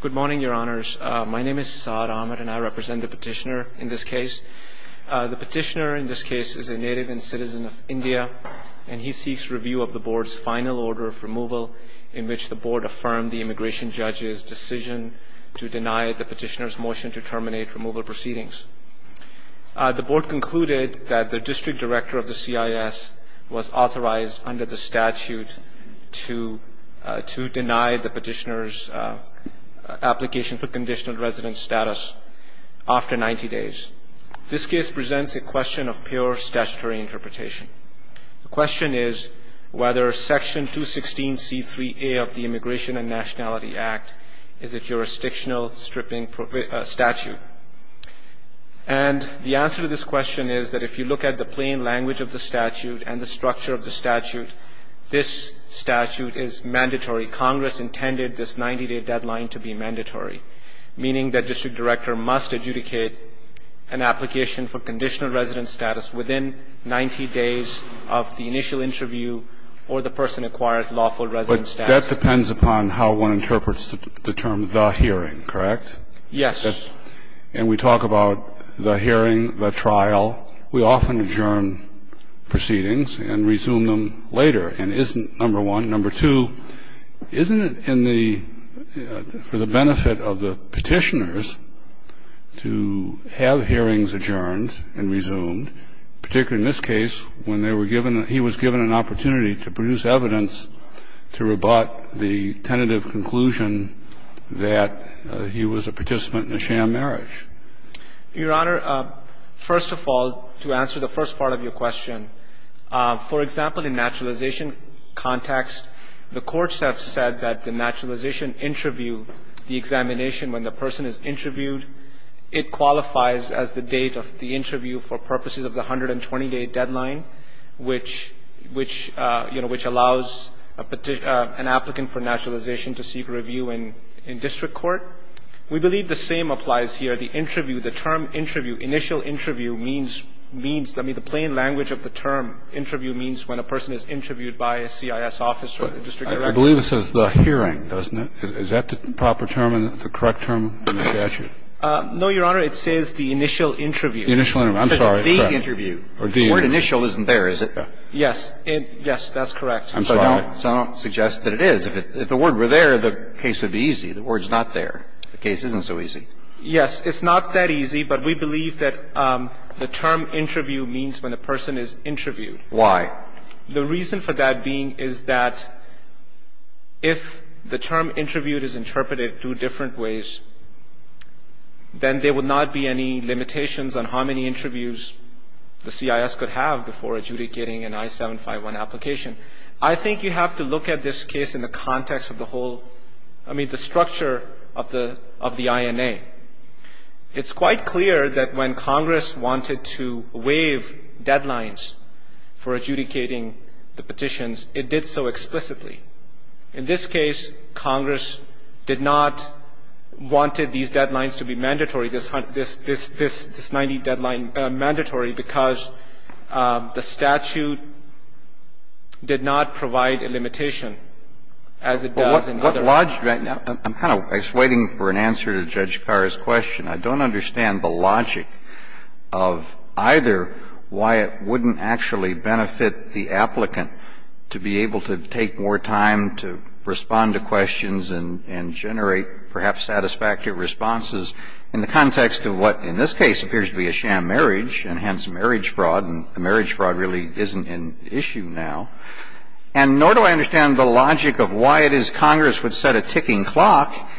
Good morning, your honors. My name is Saad Ahmed and I represent the petitioner in this case. The petitioner in this case is a native and citizen of India and he seeks review of the board's final order of removal in which the board affirmed the immigration judge's decision to deny the petitioner's motion to terminate removal proceedings. The board concluded that the district director of the CIS was authorized under the statute to deny the petitioner's application for conditional residence status after 90 days. This case presents a question of pure statutory interpretation. The question is whether Section 216C3A of the Immigration and Nationality Act is a jurisdictional stripping statute. And the answer to this question is that if you look at the plain language of the statute and the structure of the statute, this statute is mandatory. Congress intended this 90-day deadline to be mandatory, meaning that district director must adjudicate an application for conditional residence status within 90 days of the initial interview or the person acquires lawful residence status. But that depends upon how one interprets the term the hearing, correct? Yes. And we talk about the hearing, the trial. We often adjourn proceedings and resume them later. And isn't, number one. Number two, isn't it in the – for the benefit of the petitioners to have hearings adjourned and resumed, particularly in this case when they were given – he was given an opportunity to produce evidence to rebut the tentative conclusion that he was a participant in a sham marriage? Your Honor, first of all, to answer the first part of your question, for example, in naturalization context, the courts have said that the naturalization interview, the examination when the person is interviewed, it qualifies as the date of the interview for purposes of the 120-day deadline, which, you know, which allows an applicant for naturalization to seek review in district court. We believe the same applies here. The interview, the term interview, initial interview means, means, I mean, the plain language of the term interview means when a person is interviewed by a CIS officer or district director. I believe it says the hearing, doesn't it? Is that the proper term, the correct term in the statute? No, Your Honor. It says the initial interview. The initial interview. I'm sorry. The interview. The word initial isn't there, is it? Yes. Yes, that's correct. I'm sorry. I don't suggest that it is. If the word were there, the case would be easy. The word's not there. The case isn't so easy. Yes. It's not that easy, but we believe that the term interview means when a person is interviewed. Why? The reason for that being is that if the term interviewed is interpreted two different ways, then there would not be any limitations on how many interviews the CIS could have before adjudicating an I-751 application. I think you have to look at this case in the context of the whole, I mean, the structure of the INA. It's quite clear that when Congress wanted to waive deadlines for adjudicating the petitions, it did so explicitly. In this case, Congress did not want these deadlines to be mandatory, this 90-deadline because the statute did not provide a limitation as it does in other cases. I'm kind of waiting for an answer to Judge Carr's question. I don't understand the logic of either why it wouldn't actually benefit the applicant to be able to take more time to respond to questions and generate perhaps satisfactory responses in the context of what in this case appears to be a sham marriage, and hence marriage fraud, and marriage fraud really isn't an issue now. And nor do I understand the logic of why it is Congress would set a ticking clock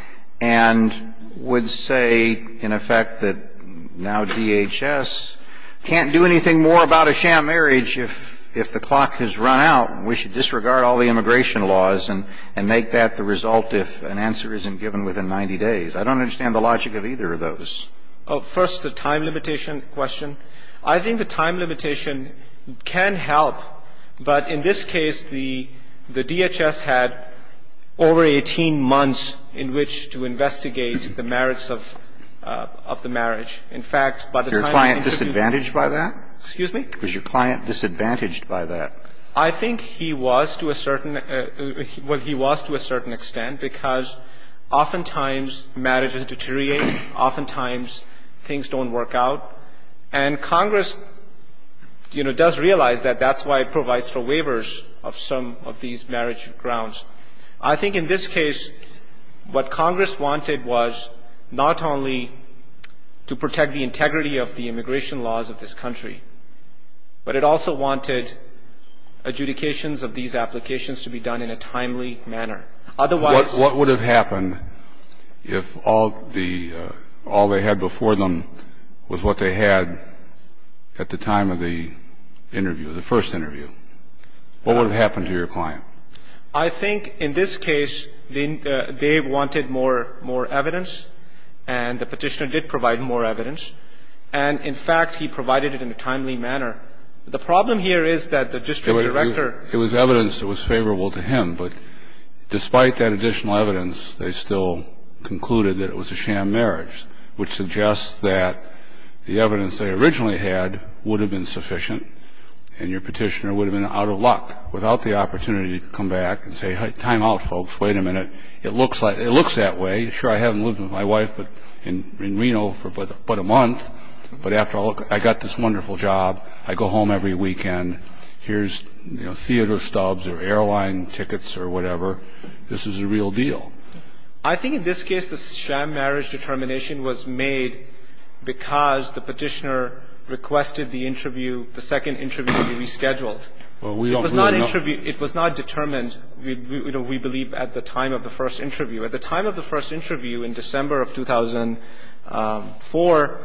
and would say in effect that now DHS can't do anything more about a sham marriage if the clock has run out and we should disregard all the immigration laws and make that the result if an answer isn't given within 90 days. I don't understand the logic of either of those. First, the time limitation question. I think the time limitation can help, but in this case, the DHS had over 18 months in which to investigate the merits of the marriage. In fact, by the time the interview was over. Was your client disadvantaged by that? Excuse me? Was your client disadvantaged by that? I think he was to a certain – well, he was to a certain extent because oftentimes marriages deteriorate, oftentimes things don't work out. And Congress, you know, does realize that that's why it provides for waivers of some of these marriage grounds. I think in this case what Congress wanted was not only to protect the integrity of the immigration laws of this country, but it also wanted adjudications of these applications to be done in a timely manner. Otherwise – What would have happened if all the – all they had before them was what they had at the time of the interview, the first interview? What would have happened to your client? I think in this case, they wanted more evidence, and the Petitioner did provide more evidence. And in fact, he provided it in a timely manner. The problem here is that the district director – It was evidence that was favorable to him, but despite that additional evidence, they still concluded that it was a sham marriage, which suggests that the evidence they originally had would have been sufficient, and your Petitioner would have been out of luck without the opportunity to come back and say, time out, folks, wait a minute, it looks that way. I haven't lived with my wife in Reno for but a month, but after all, I got this wonderful job. I go home every weekend. Here's, you know, theater stubs or airline tickets or whatever. This is a real deal. I think in this case, the sham marriage determination was made because the Petitioner requested the interview – the second interview to be rescheduled. It was not determined, you know, we believe, at the time of the first interview. At the time of the first interview in December of 2004,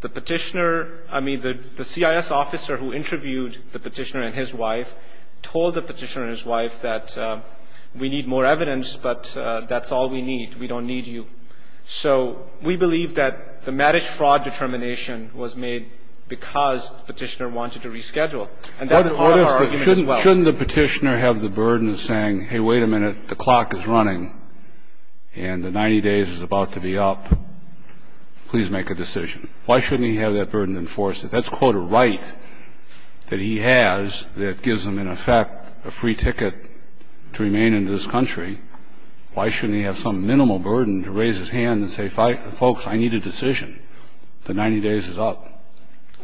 the Petitioner – I mean, the CIS officer who interviewed the Petitioner and his wife told the Petitioner and his wife that we need more evidence, but that's all we need. We don't need you. So we believe that the marriage fraud determination was made because the Petitioner wanted to reschedule. And that's our argument as well. Now, shouldn't the Petitioner have the burden of saying, hey, wait a minute. The clock is running and the 90 days is about to be up. Please make a decision. Why shouldn't he have that burden enforced? If that's, quote, a right that he has that gives him, in effect, a free ticket to remain in this country, why shouldn't he have some minimal burden to raise his hand and say, folks, I need a decision. The 90 days is up.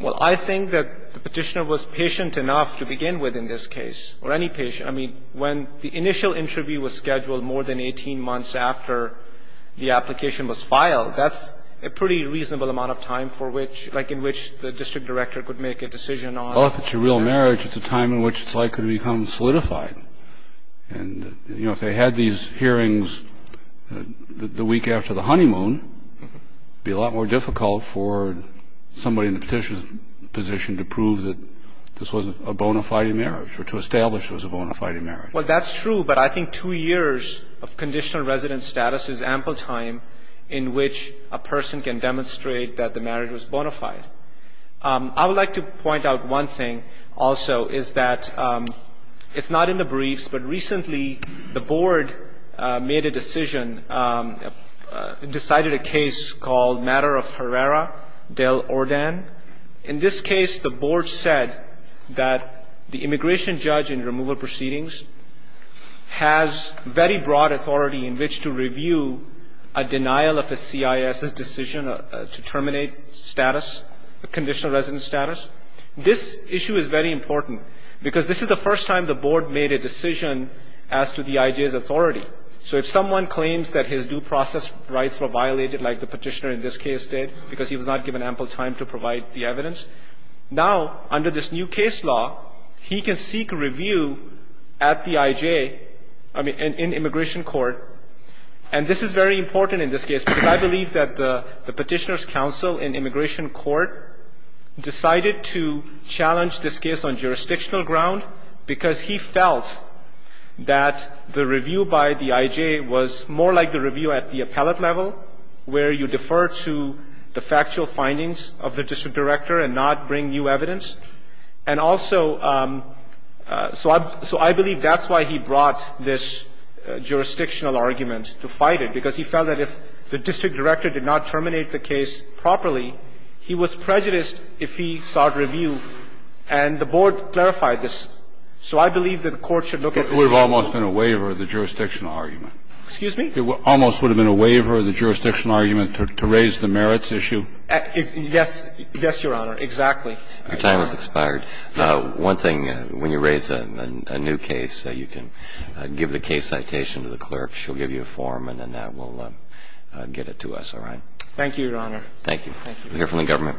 Well, I think that the Petitioner was patient enough to begin with in this case, or any patient. I mean, when the initial interview was scheduled more than 18 months after the application was filed, that's a pretty reasonable amount of time for which, like in which the district director could make a decision on. Well, if it's a real marriage, it's a time in which it's likely to become solidified. And, you know, if they had these hearings the week after the honeymoon, it would be a lot more difficult for somebody in the Petitioner's position to prove that this was a bona fide marriage or to establish it was a bona fide marriage. Well, that's true. But I think two years of conditional resident status is ample time in which a person can demonstrate that the marriage was bona fide. I would like to point out one thing also, is that it's not in the briefs, but recently the Board made a decision, decided a case called Matter of Herrera del Orden. In this case, the Board said that the immigration judge in removal proceedings has very broad authority in which to review a denial of a CIS's decision to terminate status, conditional resident status. This issue is very important because this is the first time the Board made a decision as to the IJ's authority. So if someone claims that his due process rights were violated like the Petitioner in this case did because he was not given ample time to provide the evidence, now under this new case law, he can seek review at the IJ, I mean, in immigration court. And this is very important in this case because I believe that the Petitioner's counsel in immigration court decided to challenge this case on jurisdictional ground because he felt that the review by the IJ was more like the review at the appellate level where you defer to the factual findings of the district director and not bring new evidence. And also, so I believe that's why he brought this jurisdictional argument to fight it, because he felt that if the district director did not terminate the case properly, he was prejudiced if he sought review. And the Board clarified this. So I believe that the Court should look at this issue. It would have almost been a waiver of the jurisdictional argument. Excuse me? It almost would have been a waiver of the jurisdictional argument to raise the merits issue. Yes. Yes, Your Honor. Exactly. Your time has expired. Yes. One thing, when you raise a new case, you can give the case citation to the clerk. She'll give you a form, and then that will get it to us. All right? Thank you, Your Honor. Thank you. Thank you. We'll hear from the government.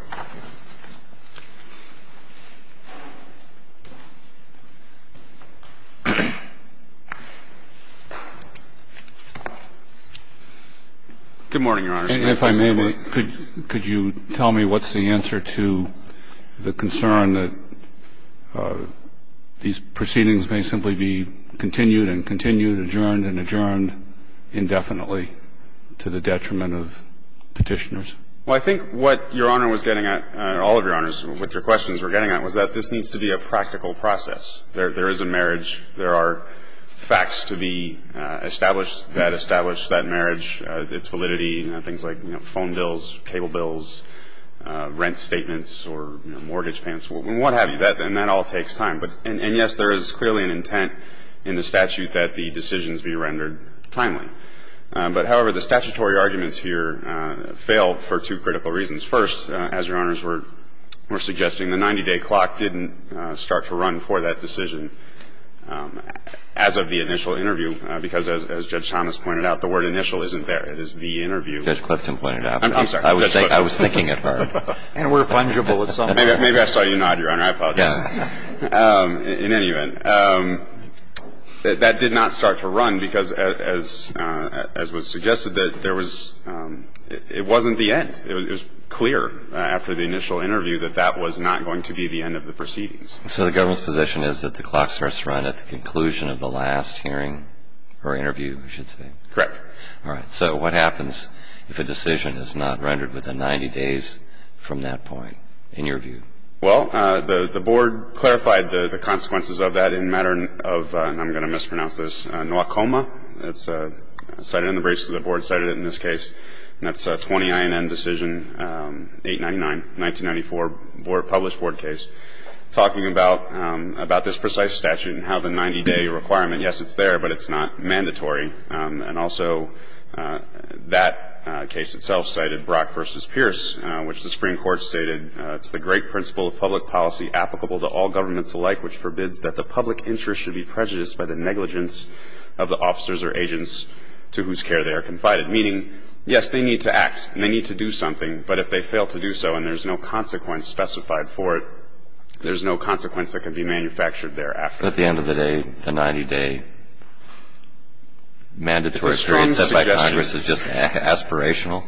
Good morning, Your Honor. If I may, could you tell me what's the answer to the concern that these proceedings may simply be continued and continued, adjourned and adjourned indefinitely to the detriment of Petitioners? Well, I think what Your Honor was getting at, all of Your Honors, what your questions were getting at was that this needs to be a practical process. There is a marriage. There are facts to be established that establish that marriage, its validity, things like, you know, phone bills, cable bills, rent statements or mortgage payments, what have you. And that all takes time. And, yes, there is clearly an intent in the statute that the decisions be rendered timely. But, however, the statutory arguments here fail for two critical reasons. First, as Your Honors were suggesting, the 90-day clock didn't start to run for that decision as of the initial interview, because as Judge Thomas pointed out, the word initial isn't there. It is the interview. Judge Clifton pointed out. I'm sorry. I was thinking it hard. And we're fungible at some point. Maybe I saw you nod, Your Honor. I apologize. Yeah. In any event, that did not start to run because, as was suggested, that there was It wasn't the end. It was clear after the initial interview that that was not going to be the end of the proceedings. So the government's position is that the clock starts to run at the conclusion of the last hearing or interview, you should say? Correct. All right. So what happens if a decision is not rendered within 90 days from that point, in your view? Well, the board clarified the consequences of that in matter of, and I'm going to mispronounce this, NWACOMA. It's cited in the briefs. The board cited it in this case. And that's a 20 INM decision, 899, 1994 published board case, talking about this precise statute and how the 90-day requirement, yes, it's there, but it's not mandatory. And also that case itself cited Brock v. Pierce, which the Supreme Court stated it's the great principle of public policy applicable to all governments alike, which forbids that the public interest should be prejudiced by the negligence of the officers or agents to whose care they are confided. Meaning, yes, they need to act and they need to do something. But if they fail to do so and there's no consequence specified for it, there's no consequence that can be manufactured thereafter. So at the end of the day, the 90-day mandatory period set by Congress is just aspirational?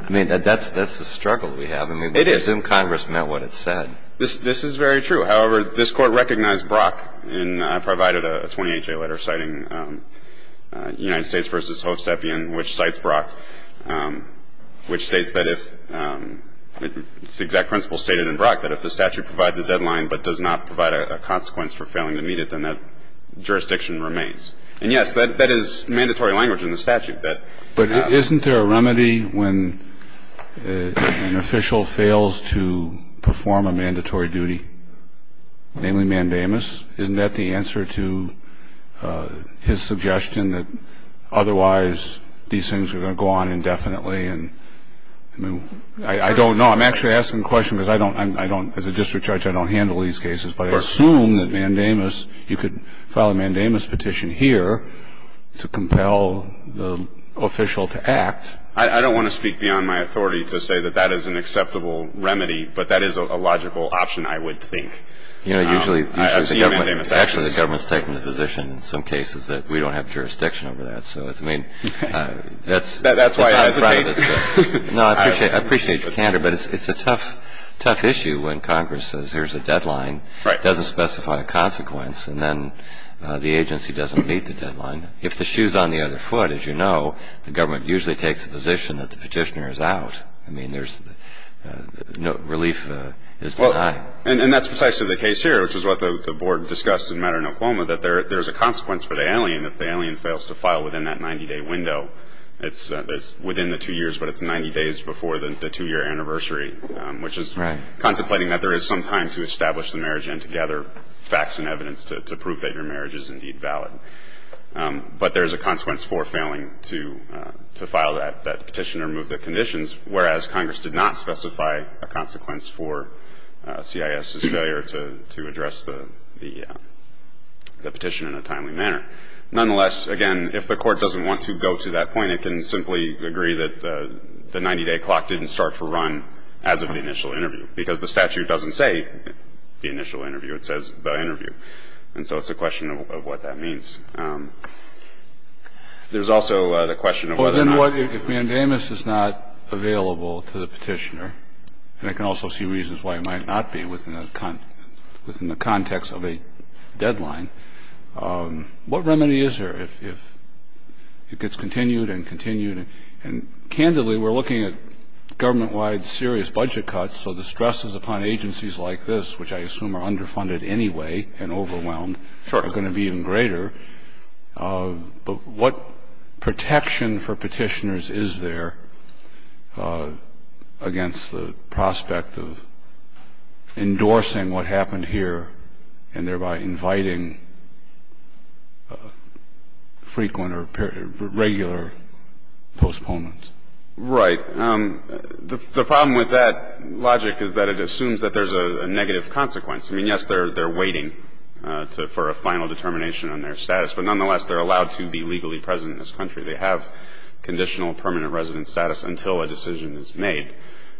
I mean, that's the struggle we have. I mean, assume Congress meant what it said. It is. This is very true. However, this Court recognized Brock and provided a 28-day letter citing United States v. Hovstepian, which cites Brock, which states that if it's the exact principle stated in Brock, that if the statute provides a deadline but does not provide a consequence for failing to meet it, then that jurisdiction remains. And, yes, that is mandatory language in the statute. But isn't there a remedy when an official fails to perform a mandatory duty, namely mandamus? Isn't that the answer to his suggestion that otherwise these things are going to go on indefinitely? I mean, I don't know. I'm actually asking the question because I don't as a district judge, I don't handle these cases. But I assume that mandamus, you could file a mandamus petition here to compel the official to act. I don't want to speak beyond my authority to say that that is an acceptable remedy, but that is a logical option, I would think. I've seen mandamus actions. Actually, the government's taken the position in some cases that we don't have jurisdiction over that. That's why I hesitate. No, I appreciate your candor, but it's a tough, tough issue when Congress says here's a condition, doesn't specify a consequence, and then the agency doesn't meet the deadline. If the shoe's on the other foot, as you know, the government usually takes the position that the petitioner is out. I mean, there's no relief is denied. And that's precisely the case here, which is what the board discussed in Mater Nocuma, that there's a consequence for the alien if the alien fails to file within that 90-day window. It's within the two years, but it's 90 days before the two-year anniversary, which is contemplating that there is some time to establish the marriage and to gather facts and evidence to prove that your marriage is indeed valid. But there's a consequence for failing to file that petition or move the conditions, whereas Congress did not specify a consequence for CIS's failure to address the petition in a timely manner. Nonetheless, again, if the Court doesn't want to go to that point, it can simply agree that the 90-day clock didn't start to run as of the initial interview, because the statute doesn't say the initial interview. It says the interview. And so it's a question of what that means. There's also the question of whether or not you're going to file. Kennedy. Well, then, if mandamus is not available to the petitioner, and I can also see reasons why it might not be within the context of a deadline, what remedy is there if it gets continued and continued? And candidly, we're looking at government-wide serious budget cuts, so the stresses upon agencies like this, which I assume are underfunded anyway and overwhelmed, are going to be even greater. But what protection for petitioners is there against the prospect of endorsing what happened here and thereby inviting frequent or regular postponements? Right. The problem with that logic is that it assumes that there's a negative consequence. I mean, yes, they're waiting for a final determination on their status. But nonetheless, they're allowed to be legally present in this country. They have conditional permanent residence status until a decision is made.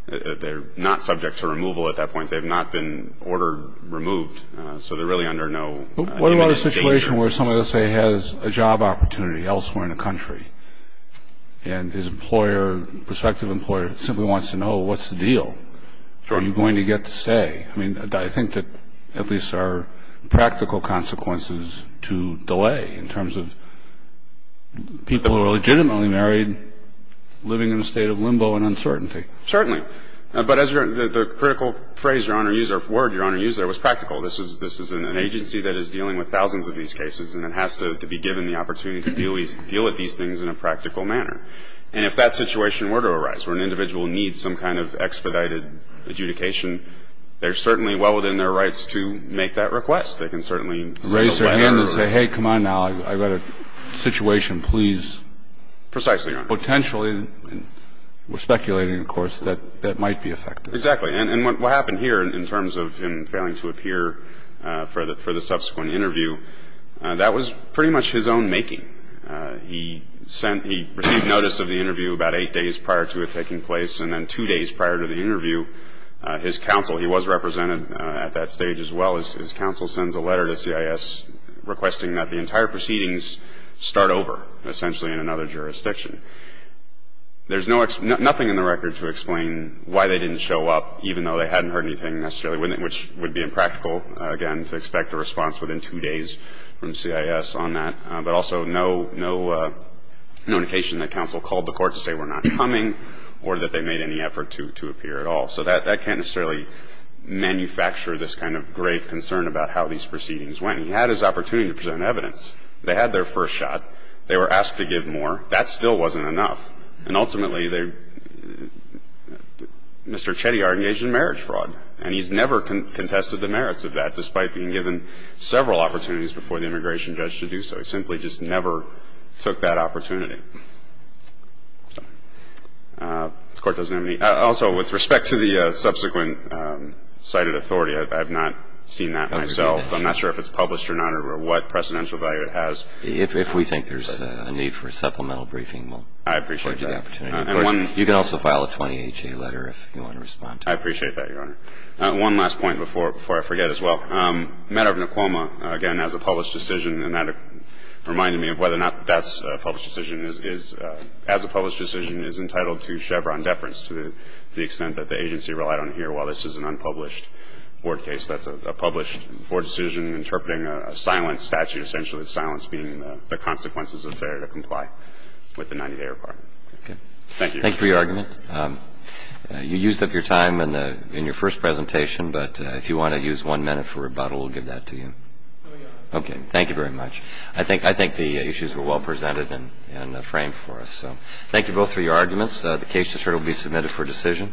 They're not subject to removal at that point. They've not been ordered removed, so they're really under no immediate danger. But what about a situation where somebody, let's say, has a job opportunity elsewhere in the country, and his employer, prospective employer, simply wants to know what's the deal? Sure. Are you going to get to stay? I mean, I think that at least there are practical consequences to delay in terms of people who are legitimately married living in a state of limbo and uncertainty. Certainly. But as the critical phrase, Your Honor, or word, Your Honor, used there was practical. This is an agency that is dealing with thousands of these cases, and it has to be given the opportunity to deal with these things in a practical manner. And if that situation were to arise where an individual needs some kind of expedited adjudication, they're certainly well within their rights to make that request. They can certainly send a letter. Raise their hand and say, hey, come on now. I've got a situation. Please. Precisely, Your Honor. And potentially, we're speculating, of course, that that might be effective. Exactly. And what happened here in terms of him failing to appear for the subsequent interview, that was pretty much his own making. He sent he received notice of the interview about eight days prior to it taking place, and then two days prior to the interview, his counsel, he was represented at that stage as well. His counsel sends a letter to CIS requesting that the entire proceedings start over, essentially in another jurisdiction. There's nothing in the record to explain why they didn't show up, even though they hadn't heard anything necessarily, which would be impractical, again, to expect a response within two days from CIS on that. But also no indication that counsel called the court to say we're not coming or that they made any effort to appear at all. So that can't necessarily manufacture this kind of great concern about how these proceedings went. He had his opportunity to present evidence. They had their first shot. They were asked to give more. That still wasn't enough. And ultimately, they Mr. Chettiar engaged in marriage fraud, and he's never contested the merits of that, despite being given several opportunities before the immigration judge to do so. He simply just never took that opportunity. The Court doesn't have any. Also, with respect to the subsequent cited authority, I have not seen that myself. I'm not sure if it's published or not or what precedential value it has. If we think there's a need for a supplemental briefing, we'll give you the opportunity. I appreciate that. You can also file a 20HA letter if you want to respond to that. I appreciate that, Your Honor. One last point before I forget as well. The matter of Naquoma, again, as a published decision, and that reminded me of whether or not that's a published decision, is as a published decision is entitled to Chevron deference to the extent that the agency relied on it here. While this is an unpublished board case, that's a published board decision interpreting a silence statute, essentially the silence being the consequences of failure to comply with the 90-day requirement. Thank you. Thank you for your argument. You used up your time in your first presentation, but if you want to use one minute for rebuttal, we'll give that to you. No, Your Honor. Okay. Thank you very much. I think the issues were well presented and framed for us. So thank you both for your arguments. The case just heard will be submitted for decision.